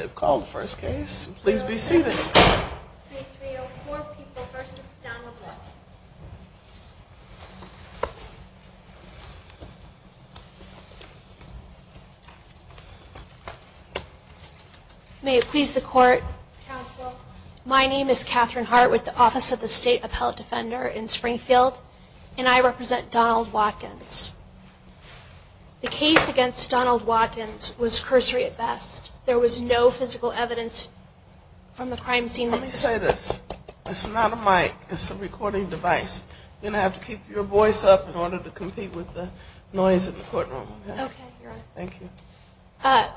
May it please the Court, Counsel, my name is Katherine Hart with the Office of the State Appellate Defender in Springfield and I represent Donald Watkins. The case against Donald Watkins was cursory at best. There was no physical evidence from the crime scene. Let me say this, it's not a mic, it's a recording device. You're going to have to keep your voice up in order to compete with the noise in the courtroom. Okay, Your Honor. Thank you.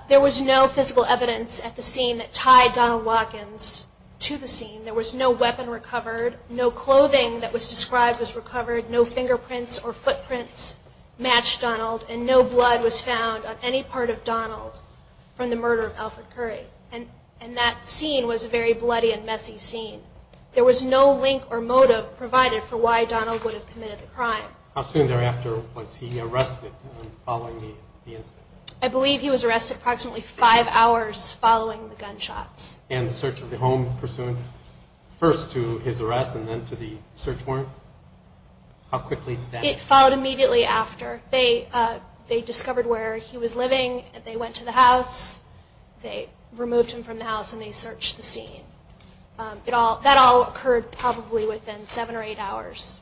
There was no physical evidence at the scene that tied Donald Watkins to the scene. There was no weapon recovered, no clothing that was described was recovered, no fingerprints or footprints matched Donald, and no blood was found on any part of Donald from the murder of Alfred Curry. And that scene was a very bloody and messy scene. There was no link or motive provided for why Donald would have committed the crime. How soon thereafter was he arrested following the incident? I believe he was arrested approximately five hours following the gunshots. And the search of the home pursuant first to his arrest and then to the search warrant? How quickly did that happen? It followed immediately after. They discovered where he was living, they went to the house, they removed him from the house and they searched the scene. That all occurred probably within seven or eight hours.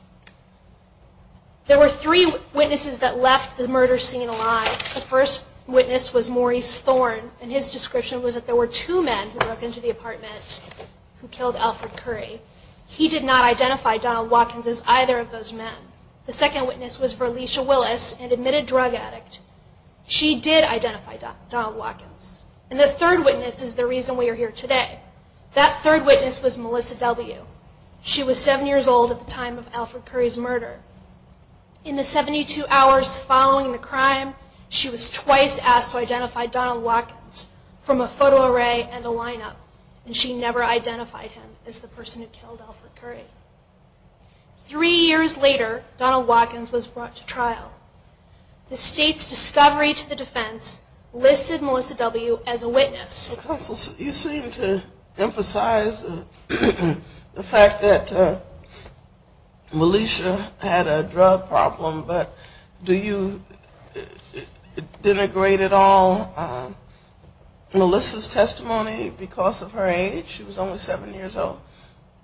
There were three witnesses that left the murder scene alive. The first witness was Maurice Thorn, and his description was that there were two men who broke into the apartment who killed Alfred Curry. He did not identify Donald Watkins as either of those men. The second witness was Verlesia Willis, an admitted drug addict. She did identify Donald Watkins. And the third witness is the reason we are here today. That third witness was Melissa W. She was seven years old at the time of Alfred Curry's murder. In the 72 hours following the crime, she was twice asked to identify Donald Watkins from a photo array and a lineup. And she never identified him as the person who killed Alfred Curry. Three years later, Donald Watkins was brought to trial. The state's attorney emphasized the fact that Melissa had a drug problem, but do you denigrate at all Melissa's testimony because of her age? She was only seven years old.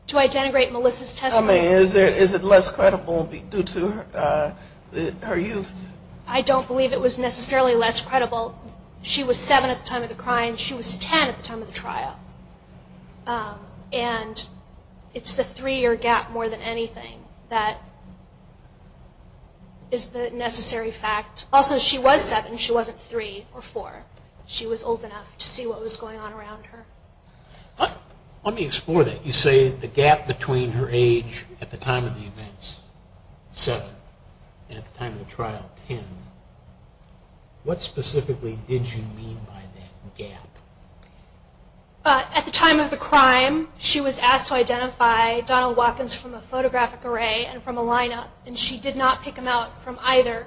Do I denigrate Melissa's testimony? Is it less credible due to her youth? I don't believe it was necessarily less credible. She was seven at the time of the crime. She was ten at the time of the trial. And it's the three year gap more than anything that is the necessary fact. Also, she was seven. She wasn't three or four. She was old enough to see what was going on around her. Let me explore that. You say the gap between her age at the time of the trial and ten. What specifically did you mean by that gap? At the time of the crime, she was asked to identify Donald Watkins from a photographic array and from a lineup. And she did not pick him out from either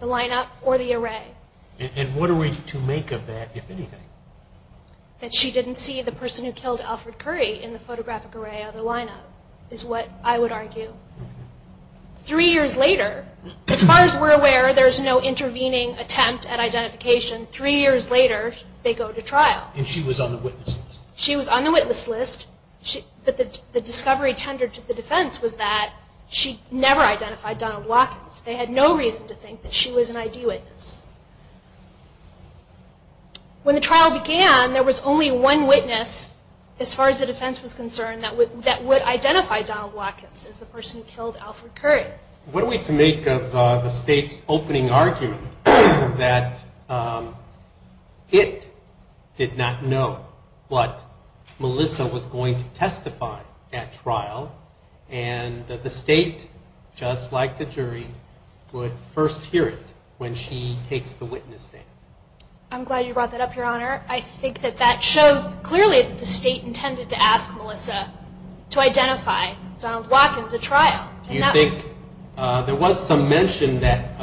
the lineup or the array. And what are we to make of that, if anything? That she didn't see the there's no intervening attempt at identification. Three years later, they go to trial. And she was on the witness list? She was on the witness list, but the discovery tendered to the defense was that she never identified Donald Watkins. They had no reason to think that she was an ID witness. When the trial began, there was only one witness, as far as the defense was concerned, that would identify Donald Watkins as the person who killed Alfred Curry. What are we to make of the state's opening argument that it did not know what Melissa was going to testify at trial and that the state, just like the jury, would first hear it when she takes the witness stand? I'm glad you brought that up, Your Honor. I think that that shows clearly that the state intended to ask Melissa to identify Donald Watkins at trial. Do you think there was some mention that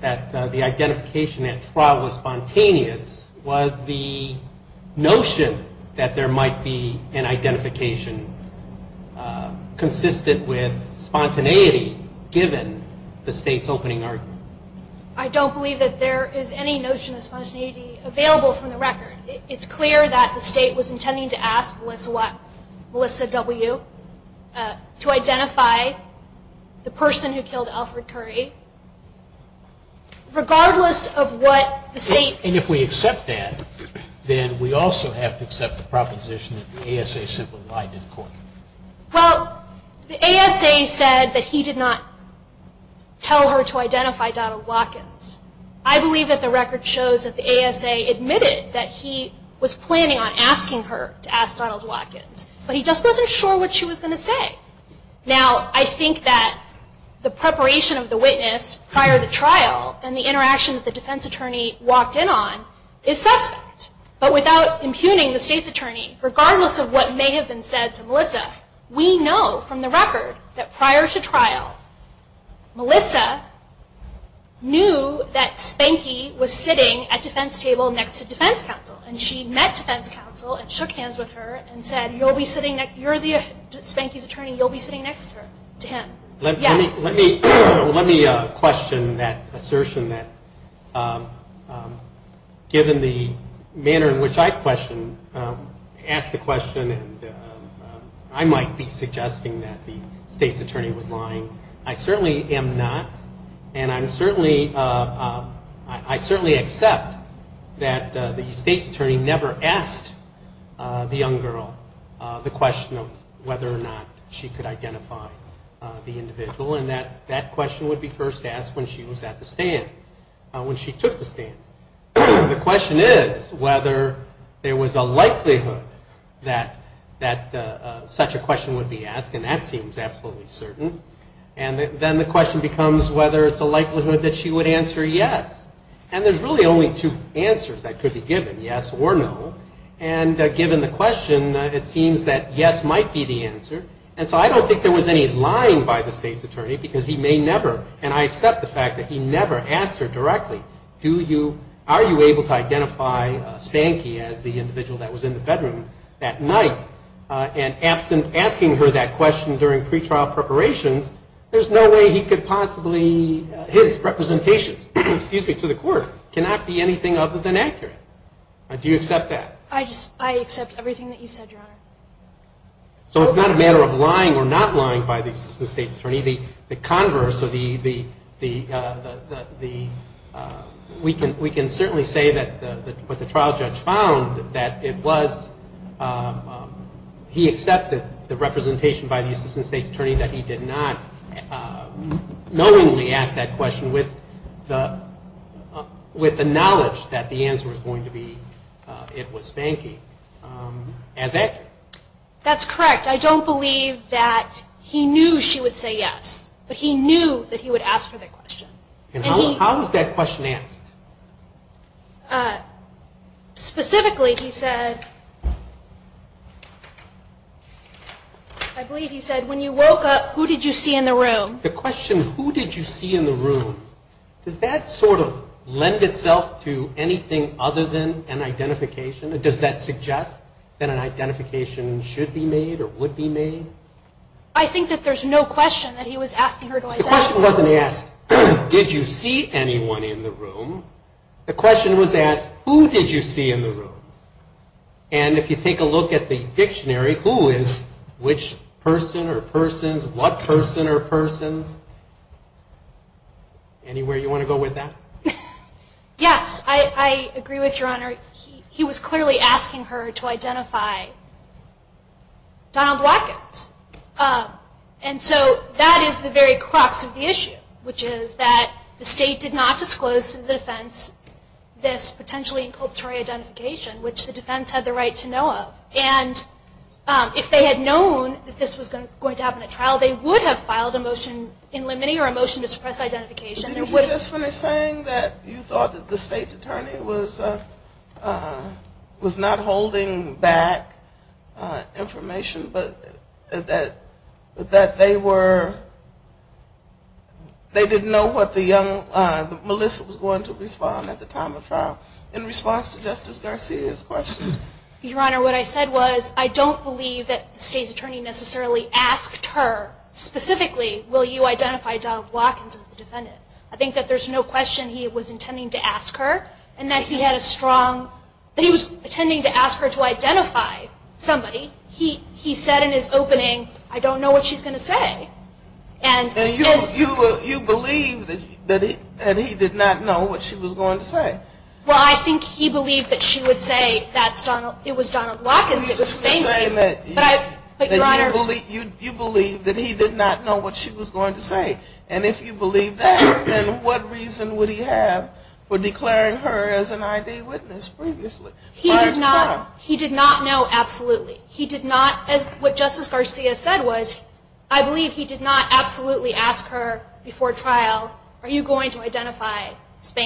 the identification at trial was spontaneous? Was the notion that there might be an identification consistent with I don't believe that there is any notion of spontaneity available from the record. It's clear that the state was intending to ask Melissa W. to identify the person who killed I believe that the record shows that the ASA admitted that he was planning on asking her to ask Donald Watkins, but he just wasn't sure what she was going to say. Now, I think that the preparation of the witness prior to trial and the interaction that the defense attorney walked in on is suspect, but without impugning the state's attorney, regardless of what may have been said to Melissa, we know from the record that prior to trial, Melissa knew that Spanky was sitting at defense table next to defense counsel. And she met defense counsel and shook hands with her and said, you're Spanky's attorney, you'll be sitting next to him. Let me question that assertion that given the manner in which I question, ask the question, and I might be suggesting that the state's attorney was lying. I certainly am not. And I'm certainly, I certainly accept that the state's attorney never asked the young girl the question of whether or not she could identify the individual, and that question would be first asked when she was at the stand, when she took the stand. The question is whether there was a likelihood that such a question would be asked, and that seems absolutely certain. And then the question becomes whether it's a likelihood that she would answer yes. And there's really only two answers to that question. One is that the state's attorney is lying by the state's attorney, because he may never, and I accept the fact that he never asked her directly, do you, are you able to identify Spanky as the individual that was in the bedroom that night, and absent asking her that question during pre-trial preparations, there's no way he could possibly, his representation, excuse me, to the court cannot be anything other than accurate. Do you accept that? The, the converse of the, the, we can certainly say that the trial judge found that it was, he accepted the representation by the assistant state's attorney that he did not knowingly ask that question with the, with the knowledge that the answer was going to be, it was Spanky, as accurate. That's correct. I don't believe that he knew she would say yes, but he knew that he would ask for that question. And how, how was that question asked? Specifically, he said, I believe he said, when you woke up, who did you see in the room? The question, who did you see in the room, does that sort of lend itself to anything other than an identification? Does that suggest that an identification should be made or would be made? I think that there's no question that he was asking her to identify. So the question wasn't asked, did you see anyone in the room? The question was asked, who did you see in the room? And if you take a look at the dictionary, who is which person or persons, what person or persons? Anywhere you want to go with that? Yes, I, I agree with Your Honor. He was clearly asking her to identify Donald Watkins. And so that is the very crux of the issue, which is that the state did not disclose to the defense this potentially inculpatory identification, which the defense had the right to know of. And if they had known that this was going to happen at trial, they would have filed a motion in limiting or a motion to suppress identification. Did you just finish saying that you thought that the state's attorney was, was not holding back information, but that, that they were, they didn't know what the young, Melissa was going to respond at the time of trial in response to Justice Garcia's question? Your Honor, what I said was I don't believe that the state's attorney necessarily asked her specifically, will you identify Donald Watkins as the defendant? I think that there's no question he was intending to ask her and that he had a strong, that he was intending to ask her to identify somebody. He, he said in his opening, I don't know what she's going to say. And And you, you, you believe that he, that he did not know what she was going to say? Well, I think he believed that she would say that's Donald, it was Donald Watkins, it was Spain. You're saying that you, you believe that he did not know what she was going to say. And if you believe that, then what reason would he have for declaring her as an ID witness previously? He did not, he did not know, absolutely. He did not, as what Justice Garcia said was, I believe he did not absolutely ask her before trial, are you saying that he had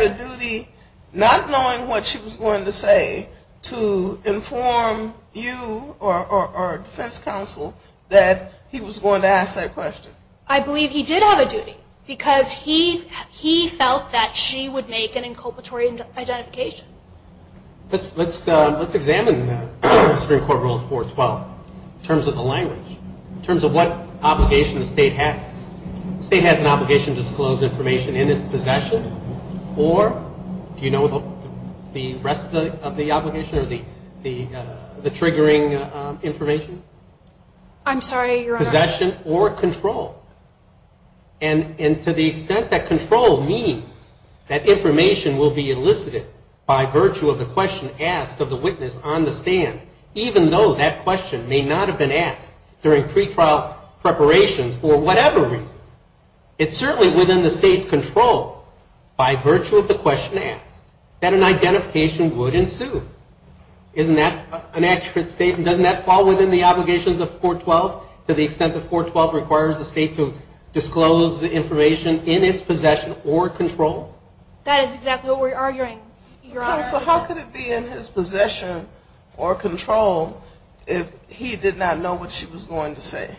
a duty not knowing what she was going to say to inform you or, or, or defense counsel that he was going to ask that question? I believe he did have a duty because he, he felt that she would make an inculpatory identification. Let's, let's, let's examine Supreme Court Rules 412 in terms of the language, in terms of what obligation the state has. The state has an obligation to disclose information in its possession or, do you know the rest of the, of the obligation or the, the, the triggering information? I'm sorry, Your Honor. Possession or control. And, and to the extent that control means that information will be elicited by virtue of the question asked of the witness on the stand, even though that question may not have been asked during pretrial preparations for whatever reason, it's certainly within the state's control, by virtue of the question asked, that an identification would ensue. Isn't that an accurate statement? Doesn't that fall within the extent that 412 requires the state to disclose the information in its possession or control? That is exactly what we're arguing, Your Honor. So how could it be in his possession or control if he did not know what she was going to say?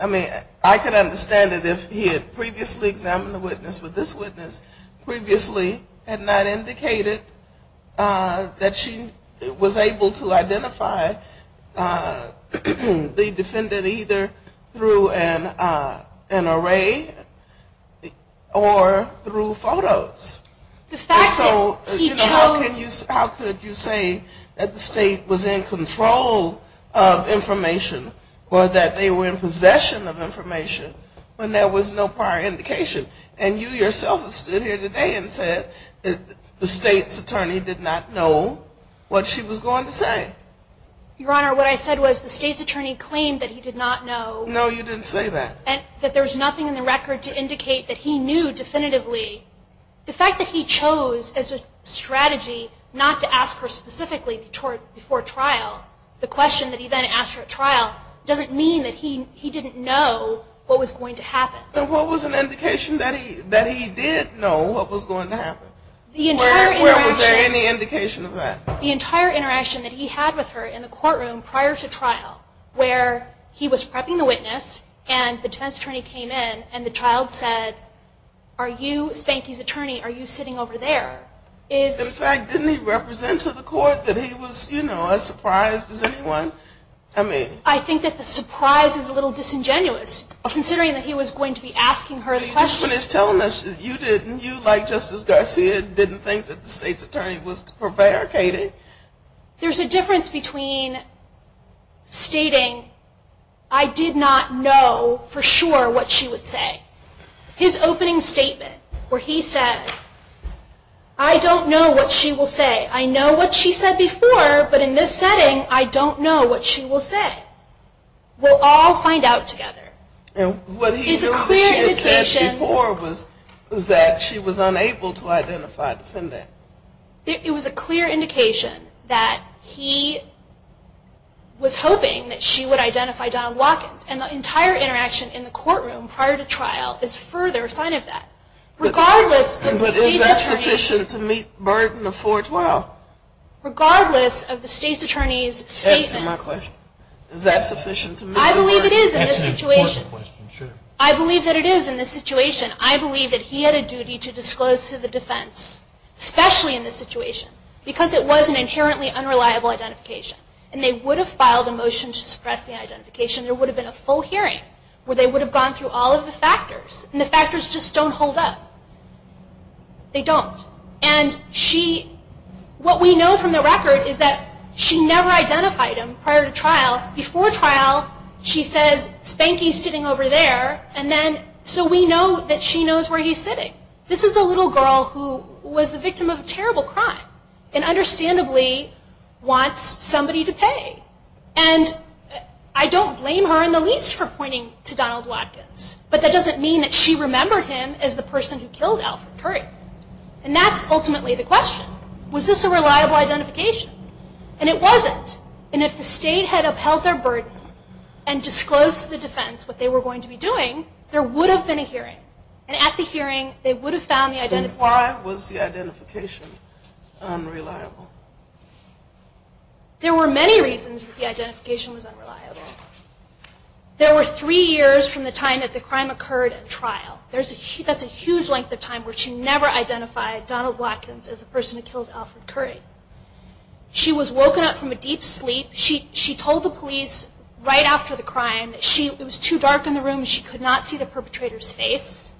I mean, I could understand it if he had previously examined the witness, but this witness previously had not indicated that she was able to identify the defendant either through an, an array or through photos. The fact that he chose... And so, you know, how could you, how could you say that the state was in control of information or that they were in possession of information when there was no prior indication? And you yourself have stood here today and said that the state's attorney did not know what she was going to say. Your Honor, what I said was the state's attorney claimed that he did not know... No, you didn't say that. ...that there was nothing in the record to indicate that he knew definitively. The fact that he chose as a strategy not to ask her specifically before trial, the question that he then asked her at trial, doesn't mean that he, he didn't know what was going to happen. But what was an indication that he, that he did know what was going to happen? The entire interaction... Where, where was there any indication of that? The entire interaction that he had with her in the courtroom prior to trial where he was prepping the witness and the defense attorney came in and the child said, are you Spanky's attorney? Are you sitting over there? Is... In fact, didn't he represent to the court that he was, you know, as surprised as anyone? I mean... I think that the surprise is a little disingenuous considering that he was going to be asking her the question. The question is telling us that you didn't, you like Justice Garcia, didn't think that the state's attorney was prevaricating. There's a difference between stating, I did not know for sure what she would say. His opening statement where he said, I don't know what she will say. I know what she said before, but in this setting, I don't know what she will say. We'll all find out together. And what he said before was that she was unable to identify the defendant. It was a clear indication that he was hoping that she would identify Donald Watkins and the entire interaction in the courtroom prior to trial is further a sign of that. Regardless of the state's attorney's... But is that sufficient to meet the burden of 412? Regardless of the state's attorney's statements... I believe that it is in this situation. I believe that he had a duty to disclose to the defense, especially in this situation. Because it was an inherently unreliable identification. And they would have filed a motion to suppress the identification. There would have been a full hearing where they would have gone through all of the factors. And the factors just don't hold up. They don't. And she... says, Spanky's sitting over there. And then, so we know that she knows where he's sitting. This is a little girl who was the victim of a terrible crime and understandably wants somebody to pay. And I don't blame her in the least for pointing to Donald Watkins. But that doesn't mean that she remembered him as the person who killed Alfred Curry. And that's ultimately the question. Was this a reliable identification? And it wasn't. And if the state had upheld their burden and disclosed to the defense what they were going to be doing, there would have been a hearing. And at the hearing, they would have found the identification... Then why was the identification unreliable? There were many reasons that the identification was unreliable. There were three years from the time that the crime occurred at trial. That's a huge length of time where she never identified Donald Watkins as the person who killed Alfred Curry. She was woken up from a deep sleep. She told the police right after the crime that it was too dark in the room. She could not see the perpetrator's face.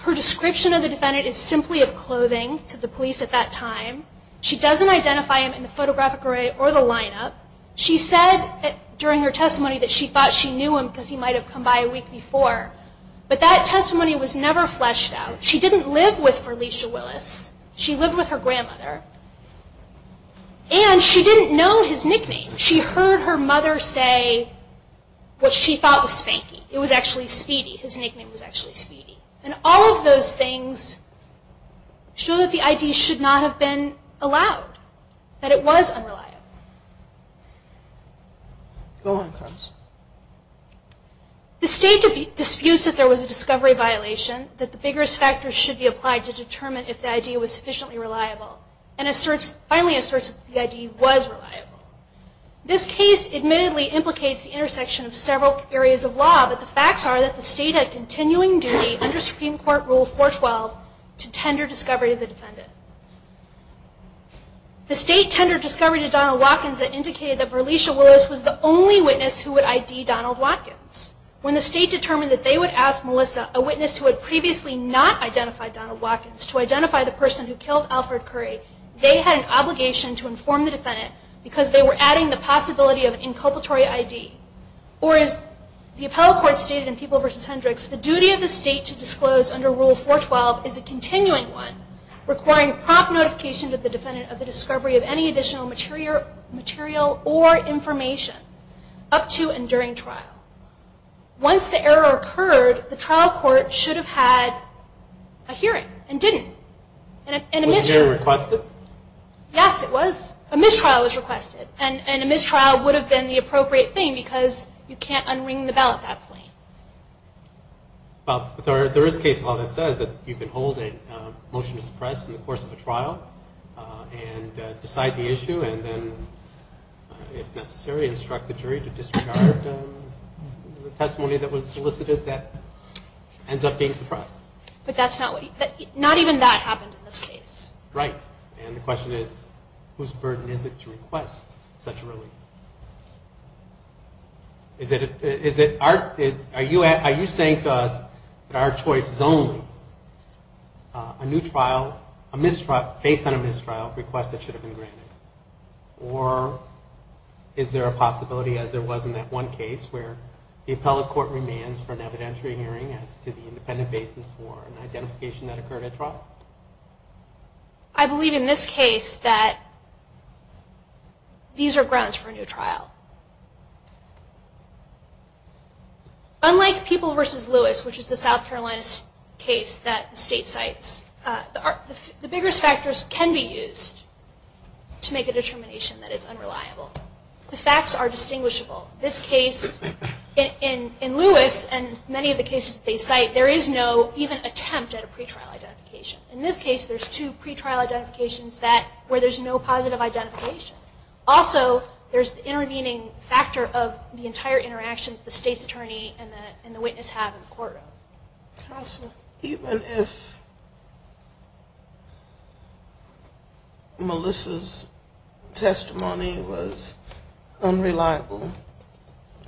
Her description of the defendant is simply of clothing to the police at that time. She doesn't identify him in the photographic array or the lineup. She said during her testimony that she thought she knew him because he might have come by a week before. But that testimony was never fleshed out. She didn't live with Felicia Willis. She lived with her grandmother. And she didn't know his nickname. She heard her mother say what she thought was Spanky. It was actually Speedy. His nickname was actually Speedy. And all of those things show that the ID should not have been allowed. That it was unreliable. The state disputes that there was a discovery violation, that the biggest factors should be applied to determine if the ID was sufficiently reliable, and finally asserts that the ID was reliable. This case admittedly implicates the intersection of several areas of law, but the facts are that the state had continuing duty under Supreme Court Rule 412 to tender discovery to the defendant. The state tendered discovery to Donald Watkins that indicated that Felicia Willis was the only witness who would ID Donald Watkins. When the state determined that they would ask Melissa, a witness who had previously not identified Donald Watkins, to identify the person who killed Alfred Curry, they had an obligation to inform the defendant because they were adding the possibility of an inculpatory ID. Or as the appellate court stated in People v. Hendricks, the duty of the state to disclose under Rule 412 is a continuing one, requiring prompt notification to the defendant of the discovery of any additional material or information up to and during trial. Once the error occurred, the trial court should have had a hearing and didn't. Was the hearing requested? Yes, it was. A mistrial was requested. And a mistrial would have been the appropriate thing because you can't un-ring the bell at that point. Well, there is a case law that says that you can hold a motion to suppress in the course of a trial and decide the issue and then if necessary instruct the jury to disregard the testimony that was solicited that ends up being suppressed. But not even that happened in this case. Right. And the question is, whose burden is it to request such a relief? Are you saying to us that our choice is only a new trial, based on a mistrial request that should have been granted? Or is there a possibility, as there was in that one case, where the appellate court remands for an evidentiary hearing as to the independent basis for an identification that occurred at trial? I believe in this case that these are grounds for a new trial. Unlike People v. Lewis, which is the South Carolina case that the state cites, the biggest factors can be used to make a determination that it's unreliable. The facts are distinguishable. This case, in Lewis and many of the cases they cite, there is no even attempt at a pretrial identification. In this case, there's two pretrial identifications where there's no positive identification. Also, there's the intervening factor of the entire interaction that the state's attorney and the witness have in the courtroom. Even if Melissa's testimony was unreliable,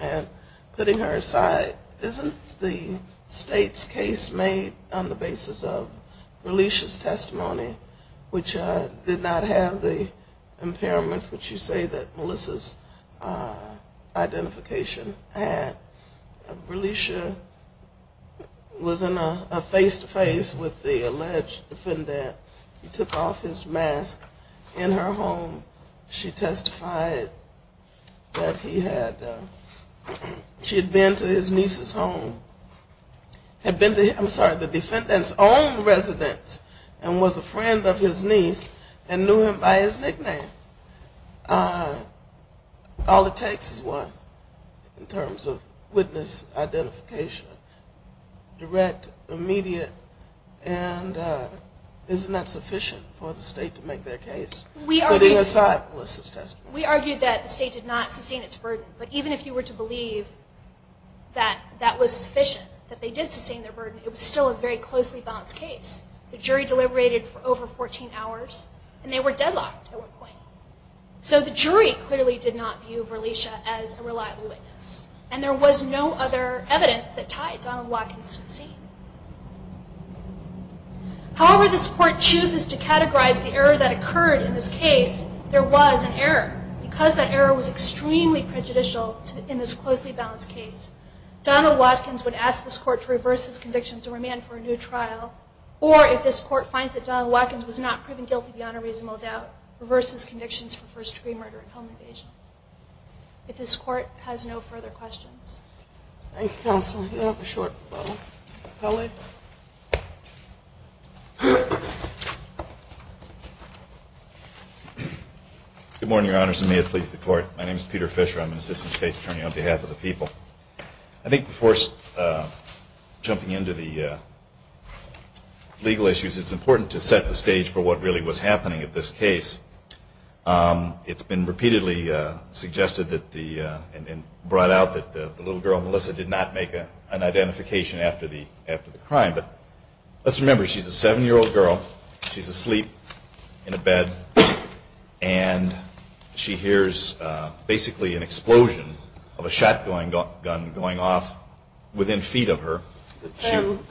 and putting her aside, isn't the state's case made on the basis of Releisha's testimony, which did not have the impairments that you say that Melissa's identification had? Releisha was in a face-to-face with the alleged defendant. He took off his mask in her home. She testified that she had been to his niece's home, had been to the defendant's own residence and was a friend of his niece and knew him by his nickname. All it takes is one in terms of witness identification, direct, immediate, and isn't that sufficient for the state to make their case? Putting aside Melissa's testimony. We argued that the state did not sustain its burden, but even if you were to believe that that was sufficient, that they did sustain their burden, it was still a very closely balanced case. The jury deliberated for over 14 hours and they were deadlocked at one point. So the jury clearly did not view Releisha as a reliable witness and there was no other evidence that tied Donald Watkins to the scene. However this court chooses to categorize the error that occurred in this case, there was an error. Because that error was extremely prejudicial in this closely balanced case, Donald Watkins would ask this court to reverse his convictions and remand for a new trial. Or if this court finds that Donald Watkins was not proven guilty beyond a reasonable doubt, reverse his convictions for first-degree murder and home invasion. If this court has no further questions. Thank you, counsel. Do you have a short follow-up? Good morning, your honors. May it please the court. My name is Peter Fisher. I'm an assistant state's attorney on behalf of the people. I think before jumping into the legal issues, it's important to set the stage for what really was happening at this case. It's been repeatedly suggested and brought out that the little girl, Melissa, did not make an identification after the crime. But let's remember, she's a seven-year-old girl. She's asleep in a bed and she hears basically an explosion of a shotgun going off within feet of her.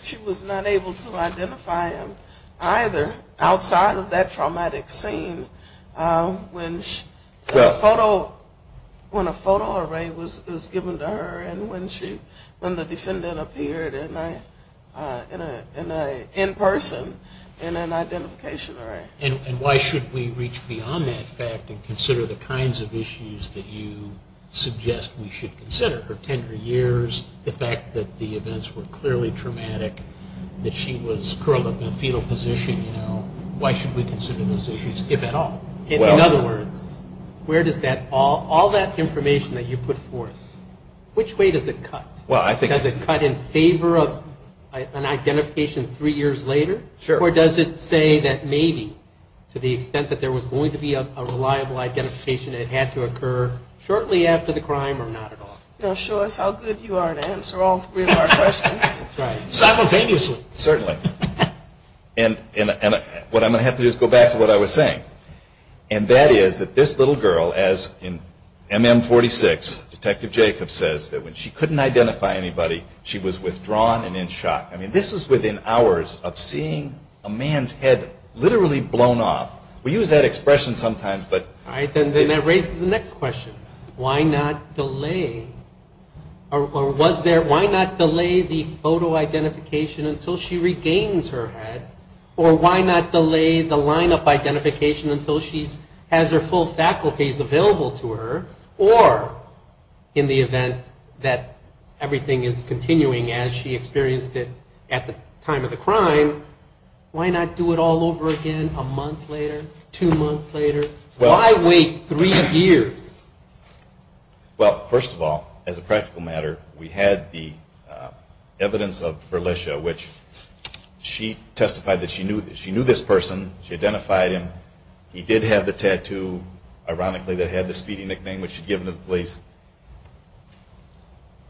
She was not able to identify him either outside of that traumatic scene. When a photo array was given to her and when the defendant appeared in person in an identification array. And why should we reach beyond that fact and consider the kinds of issues that you suggest we should consider? Her tender years, the fact that the events were clearly traumatic, that she was curled up in a fetal position. Why should we consider those issues, if at all? In other words, all that information that you put forth, which way does it cut? Does it cut in favor of an identification three years later? Or does it say that maybe to the extent that there was going to be a reliable identification it had to occur shortly after the crime or not at all? Show us how good you are at answering all three of our questions. Simultaneously. Certainly. And what I'm going to have to do is go back to what I was saying. And that is that this little girl, as in MM46, Detective Jacob says, that when she couldn't identify anybody she was withdrawn and in shock. I mean, this is within hours of seeing a man's head literally blown off. We use that expression sometimes, but. All right, then that raises the next question. Why not delay? Or why not delay the photo identification until she regains her head? Or why not delay the lineup identification until she has her full faculties available to her? Or in the event that everything is continuing as she experienced it at the time of the crime, why not do it all over again a month later, two months later? Why wait three years? Well, first of all, as a practical matter, we had the evidence of Berlicia, which she testified that she knew this person. She identified him. He did have the tattoo, ironically, that had the speedy nickname which she had given to the police.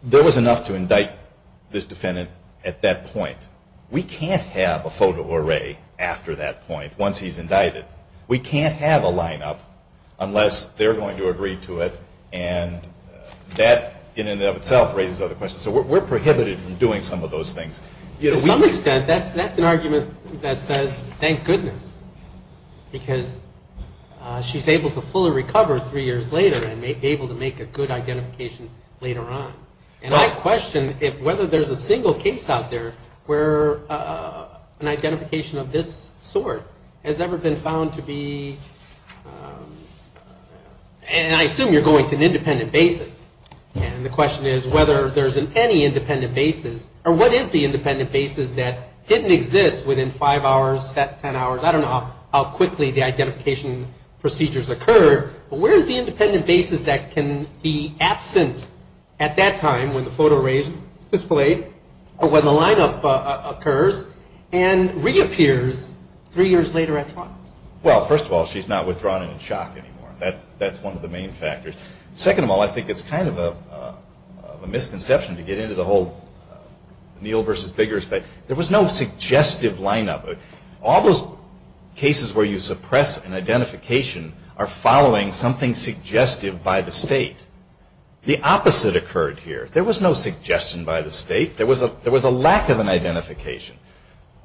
There was enough to indict this defendant at that point. We can't have a photo array after that point once he's indicted. We can't have a lineup unless they're going to agree to it, and that in and of itself raises other questions. So we're prohibited from doing some of those things. To some extent, that's an argument that says, thank goodness, because she's able to fully recover three years later and be able to make a good identification later on. And I question whether there's a single case out there where an identification of this sort has ever been found to be, and I assume you're going to an independent basis, and the question is whether there's any independent basis, or what is the independent basis that didn't exist within five hours, ten hours, I don't know how quickly the identification procedures occurred, but where is the independent basis that can be absent at that time when the photo array is displayed or when the lineup occurs and reappears three years later at trial? Well, first of all, she's not withdrawn in shock anymore. That's one of the main factors. Second of all, I think it's kind of a misconception to get into the whole Neal versus Biggers thing. There was no suggestive lineup. All those cases where you suppress an identification are following something suggestive by the state. The opposite occurred here. There was no suggestion by the state. There was a lack of an identification.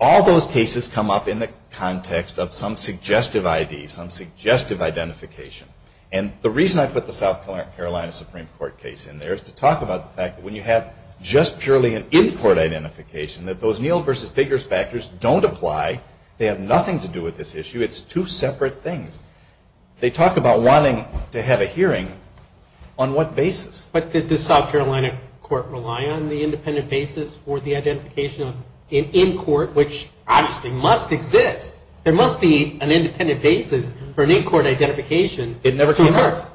All those cases come up in the context of some suggestive ID, some suggestive identification. And the reason I put the South Carolina Supreme Court case in there is to talk about the fact that when you have just purely an in-court identification, that those Neal versus Biggers factors don't apply. They have nothing to do with this issue. It's two separate things. They talk about wanting to have a hearing. On what basis? But did the South Carolina court rely on the independent basis for the identification of in-court, which obviously must exist? There must be an independent basis for an in-court identification to occur. It never came up.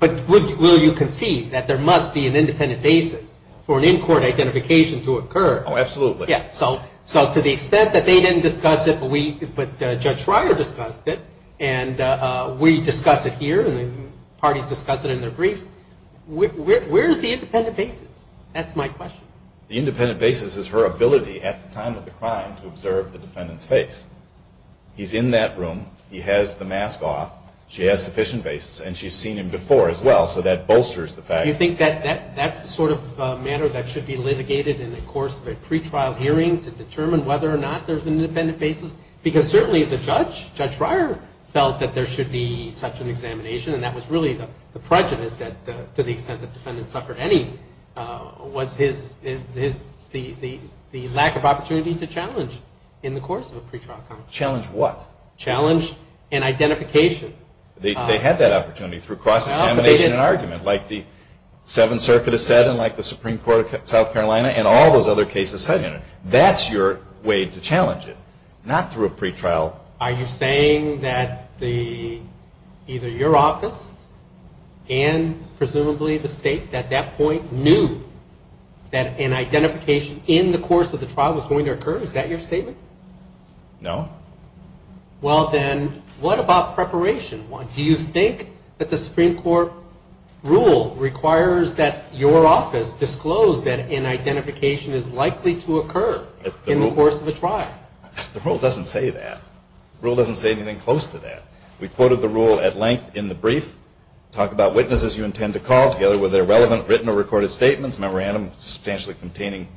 But will you concede that there must be an independent basis for an in-court identification to occur? Oh, absolutely. Yeah, so to the extent that they didn't discuss it but Judge Schreier discussed it and we discuss it here and the parties discuss it in their briefs, where is the independent basis? That's my question. The independent basis is her ability at the time of the crime to observe the defendant's face. He's in that room. He has the mask off. She has sufficient basis. And she's seen him before as well, so that bolsters the fact. You think that's the sort of matter that should be litigated in the course of a pretrial hearing to determine whether or not there's an independent basis? Because certainly the judge, Judge Schreier, felt that there should be such an examination, and that was really the prejudice to the extent that defendants suffered any, was the lack of opportunity to challenge in the course of a pretrial trial. Challenge what? Challenge an identification. They had that opportunity through cross-examination and argument, like the Seventh Circuit has said and like the Supreme Court of South Carolina and all those other cases said in it. That's your way to challenge it, not through a pretrial. Are you saying that either your office and presumably the state at that point knew that an identification in the course of the trial was going to occur? Is that your statement? No. Well, then, what about preparation? Do you think that the Supreme Court rule requires that your office disclose that an identification is likely to occur in the course of a trial? The rule doesn't say that. The rule doesn't say anything close to that. We quoted the rule at length in the brief. Talk about witnesses you intend to call, together with their relevant written or recorded statements, memorandum containing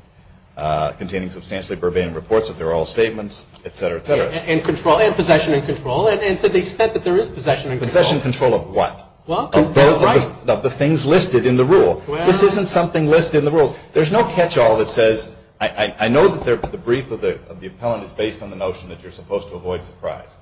substantially verbatim reports if they're all statements, et cetera, et cetera. And possession and control, and to the extent that there is possession and control. Possession and control of what? Of the things listed in the rule. This isn't something listed in the rules. There's no catch-all that says, I know that the brief of the appellant is based on the notion that you're supposed to avoid surprise.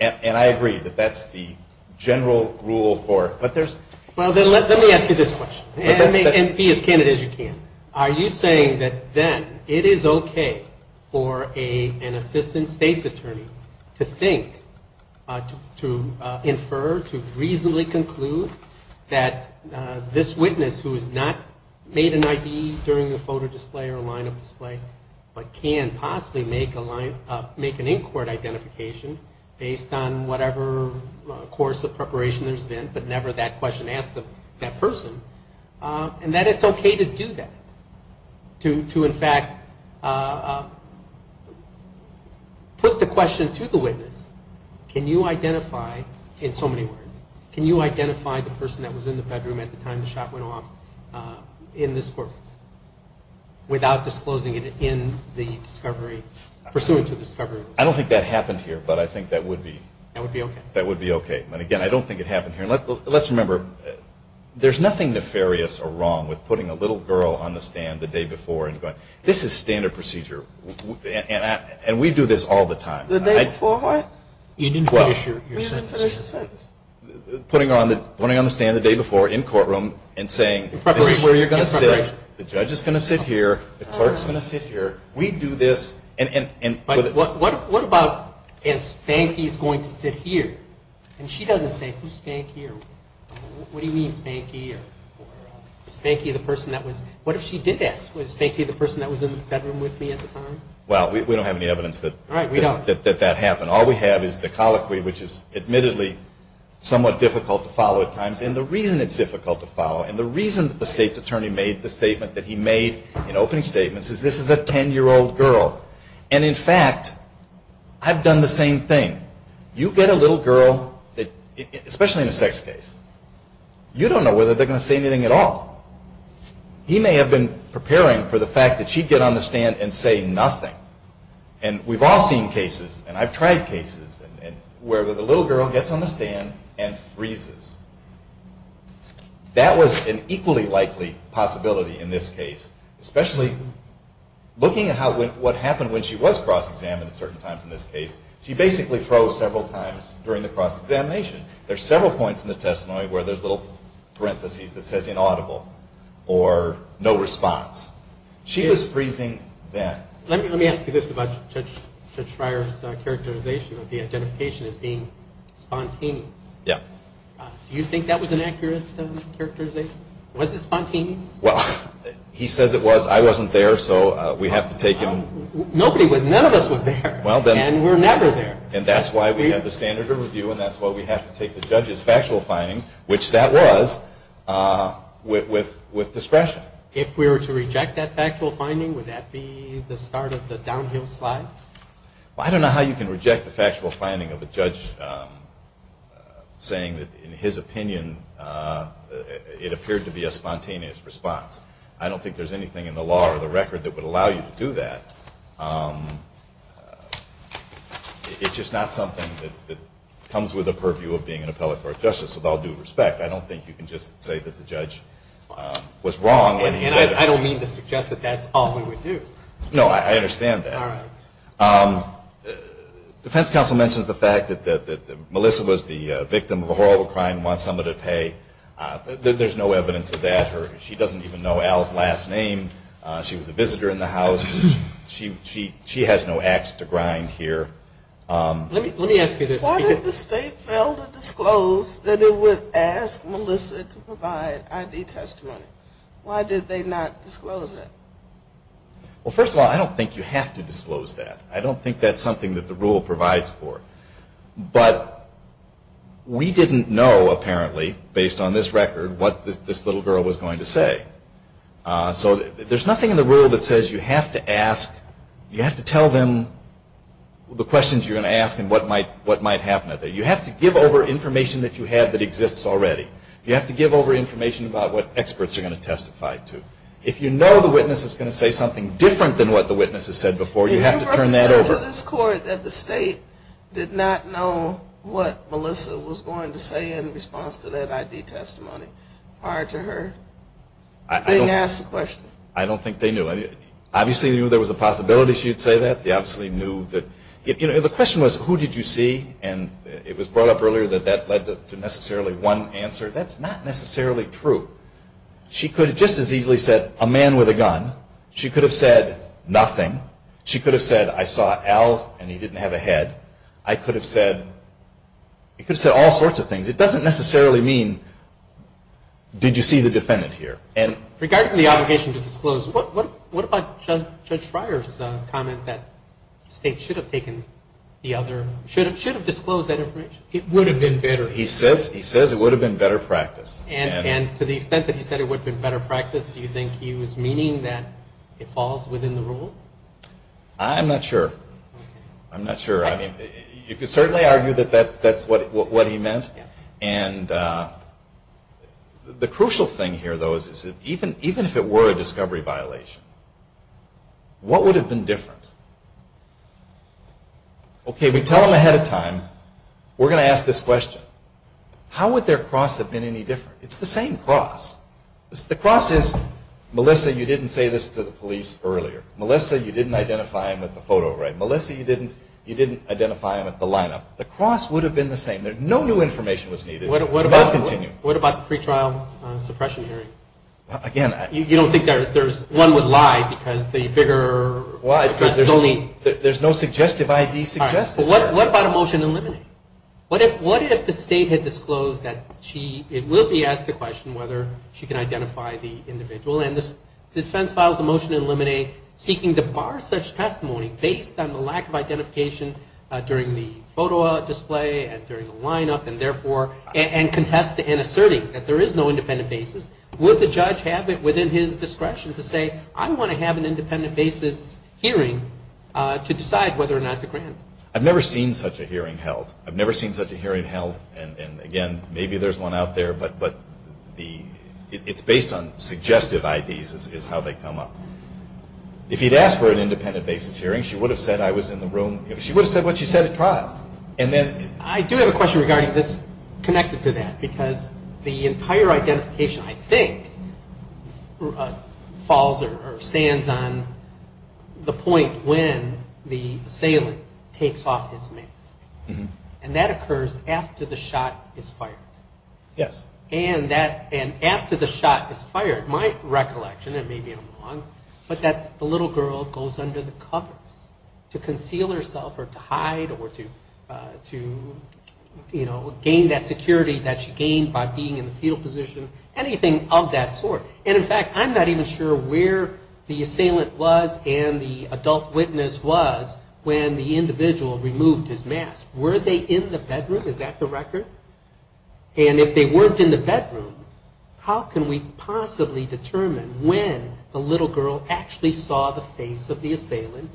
And I agree that that's the general rule for it. Well, then let me ask you this question. And be as candid as you can. Are you saying that then it is okay for an assistant state's attorney to think, to infer, to reasonably conclude that this witness, who has not made an ID during the photo display or line of display, but can possibly make an in-court identification based on whatever course of preparation there's been, but never that question asked of that person, and that it's okay to do that? To, in fact, put the question to the witness, can you identify, in so many words, can you identify the person that was in the bedroom at the time the shot went off in this court without disclosing it in the discovery, pursuant to discovery? I don't think that happened here, but I think that would be okay. And, again, I don't think it happened here. Let's remember, there's nothing nefarious or wrong with putting a little girl on the stand the day before. This is standard procedure, and we do this all the time. The day before what? You didn't finish your sentence. We didn't finish the sentence. Putting her on the stand the day before in courtroom and saying, this is where you're going to sit. In preparation. The judge is going to sit here. The clerk is going to sit here. We do this. What about if Spanky is going to sit here? And she doesn't say, who's Spanky? What do you mean, Spanky? Was Spanky the person that was, what if she did ask, was Spanky the person that was in the bedroom with me at the time? Well, we don't have any evidence that that happened. All we have is the colloquy, which is admittedly somewhat difficult to follow at times, and the reason it's difficult to follow, and the reason that the state's attorney made the statement that he made in opening statements is this is a 10-year-old girl. And, in fact, I've done the same thing. You get a little girl, especially in a sex case, you don't know whether they're going to say anything at all. He may have been preparing for the fact that she'd get on the stand and say nothing. And we've all seen cases, and I've tried cases, where the little girl gets on the stand and freezes. That was an equally likely possibility in this case, especially looking at what happened when she was cross-examined at certain times in this case. She basically froze several times during the cross-examination. There's several points in the testimony where there's little parentheses that says inaudible or no response. She was freezing then. Let me ask you this about Judge Fryer's characterization of the identification as being spontaneous. Yeah. Do you think that was an accurate characterization? Was it spontaneous? Well, he says it was. I wasn't there, so we have to take him. Nobody was. None of us was there. And we're never there. And that's why we have the standard of review, and that's why we have to take the judge's factual findings, which that was, with discretion. If we were to reject that factual finding, would that be the start of the downhill slide? Well, I don't know how you can reject the factual finding of a judge saying that, in his opinion, it appeared to be a spontaneous response. I don't think there's anything in the law or the record that would allow you to do that. It's just not something that comes with the purview of being an appellate court justice, with all due respect. I don't think you can just say that the judge was wrong when he said it. And I don't mean to suggest that that's all we would do. No, I understand that. All right. Defense counsel mentions the fact that Melissa was the victim of a horrible crime and wants somebody to pay. There's no evidence of that. She doesn't even know Al's last name. She was a visitor in the house. She has no ax to grind here. Let me ask you this. Why did the state fail to disclose that it would ask Melissa to provide ID testimony? Why did they not disclose that? Well, first of all, I don't think you have to disclose that. I don't think that's something that the rule provides for. But we didn't know, apparently, based on this record, what this little girl was going to say. So there's nothing in the rule that says you have to ask, you have to tell them the questions you're going to ask and what might happen. You have to give over information that you have that exists already. You have to give over information about what experts are going to testify to. If you know the witness is going to say something different than what the witness has said before, you have to turn that over. Did you write a letter to this court that the state did not know what Melissa was going to say in response to that ID testimony prior to her being asked the question? I don't think they knew. Obviously, they knew there was a possibility she would say that. They obviously knew that. The question was, who did you see? And it was brought up earlier that that led to necessarily one answer. That's not necessarily true. She could have just as easily said, a man with a gun. She could have said nothing. She could have said, I saw Al and he didn't have a head. I could have said, I could have said all sorts of things. It doesn't necessarily mean, did you see the defendant here? Regarding the obligation to disclose, what about Judge Schreier's comment that the state should have taken the other, should have disclosed that information? It would have been better. He says it would have been better practiced. And to the extent that he said it would have been better practiced, do you think he was meaning that it falls within the rule? I'm not sure. I'm not sure. You could certainly argue that that's what he meant. And the crucial thing here, though, is that even if it were a discovery violation, what would have been different? Okay, we tell them ahead of time. We're going to ask this question. How would their cross have been any different? It's the same cross. The cross is, Melissa, you didn't say this to the police earlier. Melissa, you didn't identify him at the photo, right? Melissa, you didn't identify him at the lineup. The cross would have been the same. No new information was needed. They'll continue. What about the pretrial suppression hearing? Again, I Well, there's no suggestive I.D. suggested there. All right, but what about a motion to eliminate? What if the state had disclosed that she – it will be asked the question whether she can identify the individual, and the defense files a motion to eliminate seeking to bar such testimony based on the lack of identification during the photo display and during the lineup, and therefore – and contesting and asserting that there is no independent basis. Would the judge have it within his discretion to say, I want to have an independent basis hearing to decide whether or not to grant? I've never seen such a hearing held. I've never seen such a hearing held, and again, maybe there's one out there, but the – it's based on suggestive I.D.s is how they come up. If he'd asked for an independent basis hearing, she would have said I was in the room. She would have said what she said at trial, and then I do have a question regarding – that's connected to that, because the entire identification, I think, falls or stands on the point when the assailant takes off his mask. And that occurs after the shot is fired. Yes. And that – and after the shot is fired, my recollection, and maybe I'm wrong, but that the little girl goes under the covers to conceal herself or to hide or to, you know, gain that security that she gained by being in the fetal position, anything of that sort. And in fact, I'm not even sure where the assailant was and the adult witness was when the individual removed his mask. Were they in the bedroom? Is that the record? And if they weren't in the bedroom, how can we possibly determine when the little girl actually saw the face of the assailant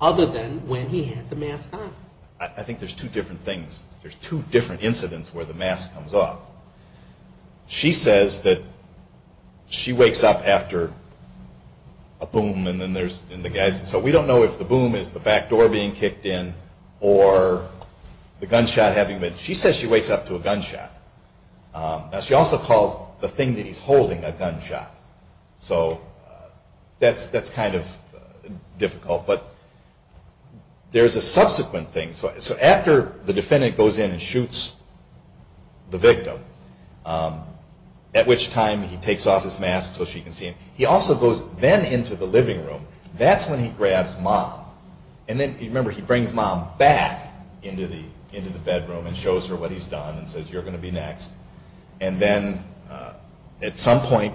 other than when he had the mask on? I think there's two different things. There's two different incidents where the mask comes off. She says that she wakes up after a boom and then there's – and the guys – so we don't know if the boom is the back door being kicked in or the gunshot having been – she says she wakes up to a gunshot. Now, she also calls the thing that he's holding a gunshot. So that's kind of difficult. But there's a subsequent thing. So after the defendant goes in and shoots the victim, at which time he takes off his mask so she can see him, he also goes then into the living room. That's when he grabs mom. And then, remember, he brings mom back into the bedroom and shows her what he's done and says, you're going to be next. And then at some point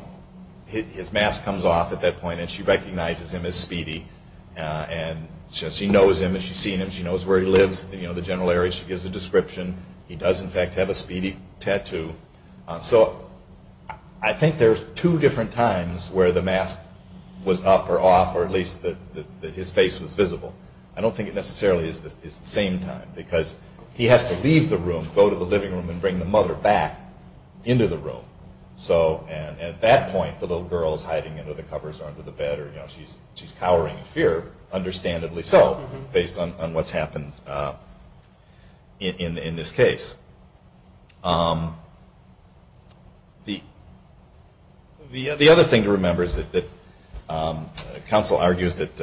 his mask comes off at that point and she recognizes him as Speedy. And she knows him and she's seen him. She knows where he lives, the general area. She gives a description. He does, in fact, have a Speedy tattoo. So I think there's two different times where the mask was up or off or at least that his face was visible. I don't think it necessarily is the same time because he has to leave the room, go to the living room and bring the mother back into the room. So at that point the little girl is hiding under the covers or under the bed or she's cowering in fear, understandably so based on what's happened in this case. The other thing to remember is that counsel argues that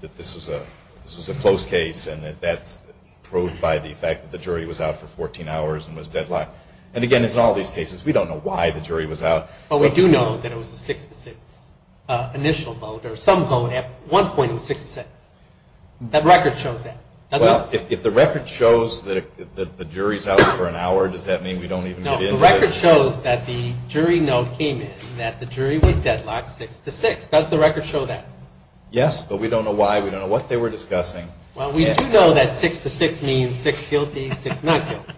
this was a close case and that that's proved by the fact that the jury was out for 14 hours and was deadlocked. And, again, as in all these cases, we don't know why the jury was out. But we do know that it was a 6-6 initial vote or some vote. At one point it was 6-6. The record shows that. Well, if the record shows that the jury's out for an hour, does that mean we don't even get into it? No, the record shows that the jury note came in that the jury was deadlocked 6-6. Does the record show that? Yes, but we don't know why. We don't know what they were discussing. Well, we do know that 6-6 means 6 guilty, 6 not guilty.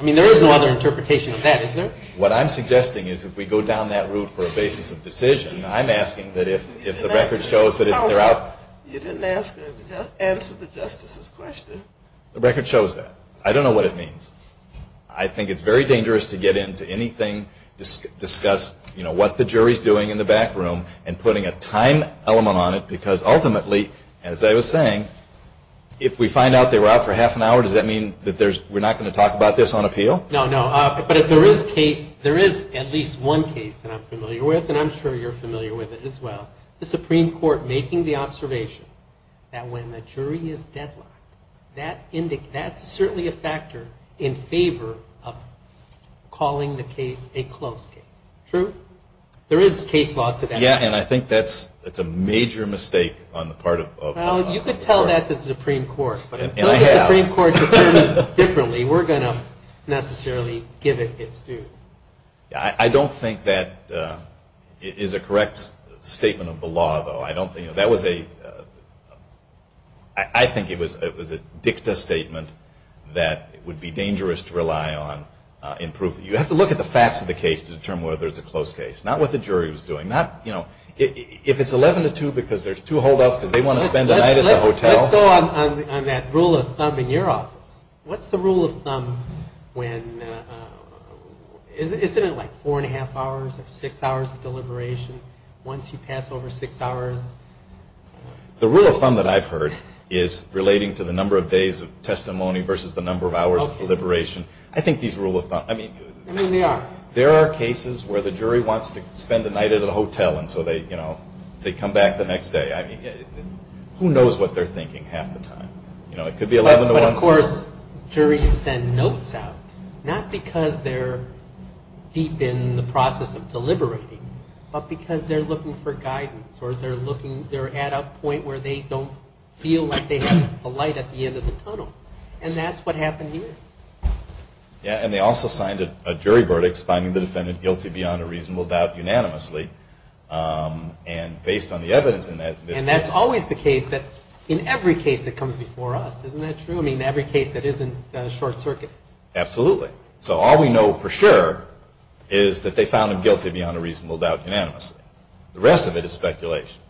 I mean, there is no other interpretation of that, is there? What I'm suggesting is if we go down that route for a basis of decision, I'm asking that if the record shows that they're out. You didn't answer the justice's question. The record shows that. I don't know what it means. I think it's very dangerous to get into anything, discuss, you know, what the jury's doing in the back room and putting a time element on it because, ultimately, as I was saying, if we find out they were out for half an hour, does that mean that we're not going to talk about this on appeal? No, no, but there is at least one case that I'm familiar with, and I'm sure you're familiar with it as well, the Supreme Court making the observation that when the jury is deadlocked, that's certainly a factor in favor of calling the case a close case. True? There is case law to that. Yeah, and I think that's a major mistake on the part of the court. Well, you could tell that to the Supreme Court, but until the Supreme Court determines differently, we're going to necessarily give it its due. I don't think that is a correct statement of the law, though. I don't think that was a ‑‑ I think it was a dicta statement that would be dangerous to rely on in proof. You have to look at the facts of the case to determine whether it's a close case, not what the jury was doing, not, you know, if it's 11 to 2 because there's two holdouts because they want to spend the night at the hotel. Let's go on that rule of thumb in your office. What's the rule of thumb when ‑‑ isn't it like four and a half hours or six hours of deliberation? Once you pass over six hours? The rule of thumb that I've heard is relating to the number of days of testimony versus the number of hours of deliberation. I think these rule of thumbs, I mean, there are cases where the jury wants to spend the night at a hotel, and so they, you know, they come back the next day. I mean, who knows what they're thinking half the time? You know, it could be 11 to 1. But, of course, juries send notes out, not because they're deep in the process of deliberating, but because they're looking for guidance or they're looking, they're at a point where they don't feel like they have the light at the end of the tunnel, and that's what happened here. Yeah, and they also signed a jury verdict, finding the defendant guilty beyond a reasonable doubt unanimously, and based on the evidence in that case. And that's always the case that, in every case that comes before us, isn't that true? I mean, every case that is in the short circuit. Absolutely. So all we know for sure is that they found him guilty beyond a reasonable doubt unanimously. The rest of it is speculation.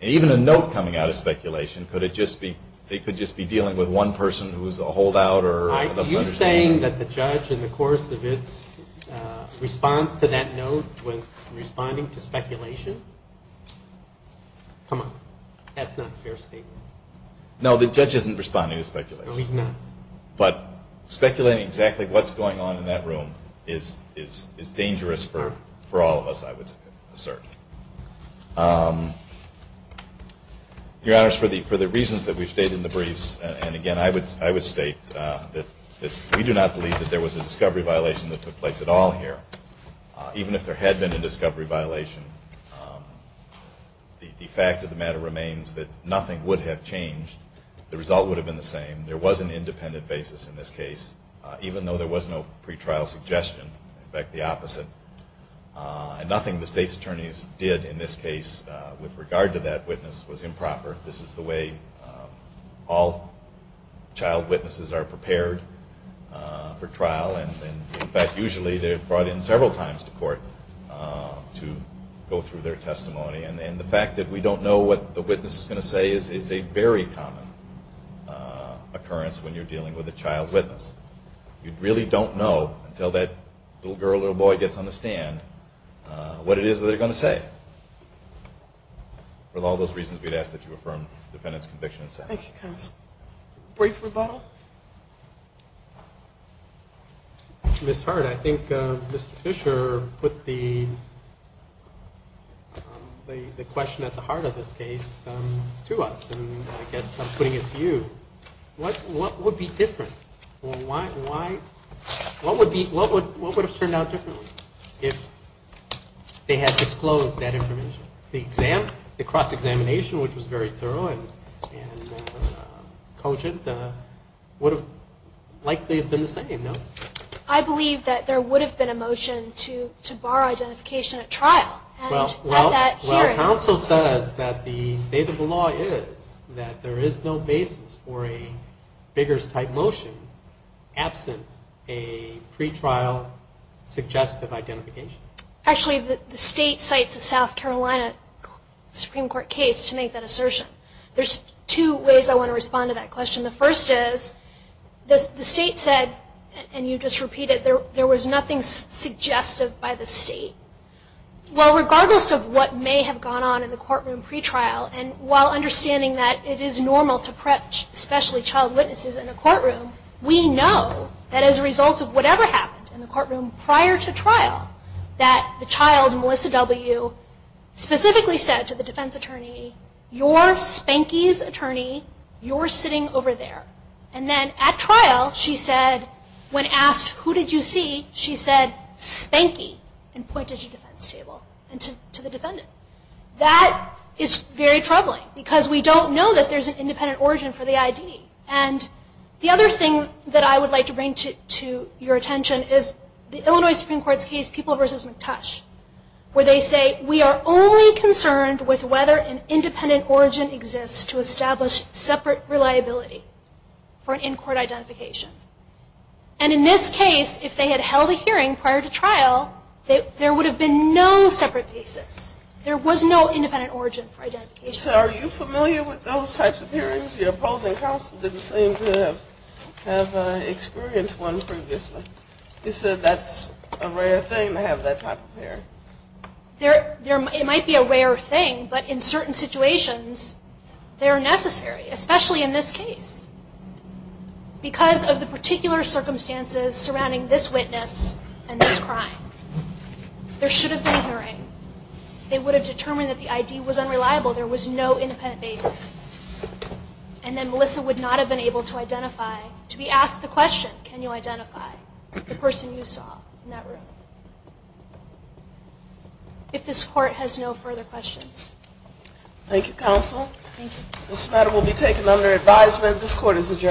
And even a note coming out of speculation, could it just be, they could just be dealing with one person who's a holdout or doesn't understand. Are you saying that the judge, in the course of its response to that note, was responding to speculation? Come on. That's not a fair statement. No, the judge isn't responding to speculation. No, he's not. But speculating exactly what's going on in that room is dangerous for all of us, I would assert. Your Honors, for the reasons that we've stated in the briefs, and, again, I would state that we do not believe that there was a discovery violation that took place at all here. Even if there had been a discovery violation, the fact of the matter remains that nothing would have changed. The result would have been the same. There was an independent basis in this case, even though there was no pretrial suggestion. In fact, the opposite. Nothing the State's attorneys did in this case with regard to that witness was improper. This is the way all child witnesses are prepared for trial, and, in fact, usually they're brought in several times to court to go through their testimony. And the fact that we don't know what the witness is going to say is a very common occurrence when you're dealing with a child witness. You really don't know until that little girl or little boy gets on the stand what it is that they're going to say. With all those reasons, we'd ask that you affirm the defendant's conviction. Thank you, counsel. Brief rebuttal? Ms. Hart, I think Mr. Fisher put the question at the heart of this case to us, and I guess I'm putting it to you. What would be different? Well, what would have turned out differently if they had disclosed that information? The cross-examination, which was very thorough and cogent, would have likely been the same, no? I believe that there would have been a motion to bar identification at trial. Well, counsel says that the state of the law is that there is no basis for a Biggers-type motion absent a pretrial suggestive identification. Actually, the state cites a South Carolina Supreme Court case to make that assertion. There's two ways I want to respond to that question. The first is, the state said, and you just repeated, there was nothing suggestive by the state. Well, regardless of what may have gone on in the courtroom pretrial, and while understanding that it is normal to pretch, especially child witnesses in a courtroom, we know that as a result of whatever happened in the courtroom prior to trial, that the child, Melissa W., specifically said to the defense attorney, you're Spanky's attorney, you're sitting over there. And then at trial, she said, when asked, who did you see, she said, Spanky, and pointed to the defense table and to the defendant. That is very troubling, because we don't know that there's an independent origin for the ID. And the other thing that I would like to bring to your attention is the Illinois Supreme Court's case, where they say, we are only concerned with whether an independent origin exists to establish separate reliability for an in-court identification. And in this case, if they had held a hearing prior to trial, there would have been no separate basis. There was no independent origin for identification. So are you familiar with those types of hearings? Your opposing counsel didn't seem to have experienced one previously. You said that's a rare thing to have that type of hearing. It might be a rare thing, but in certain situations, they're necessary, especially in this case. Because of the particular circumstances surrounding this witness and this crime, there should have been a hearing. They would have determined that the ID was unreliable. There was no independent basis. And then Melissa would not have been able to identify, to be asked the question, can you identify the person you saw in that room? If this Court has no further questions. Thank you, counsel. Thank you. This matter will be taken under advisement. This Court is adjourned.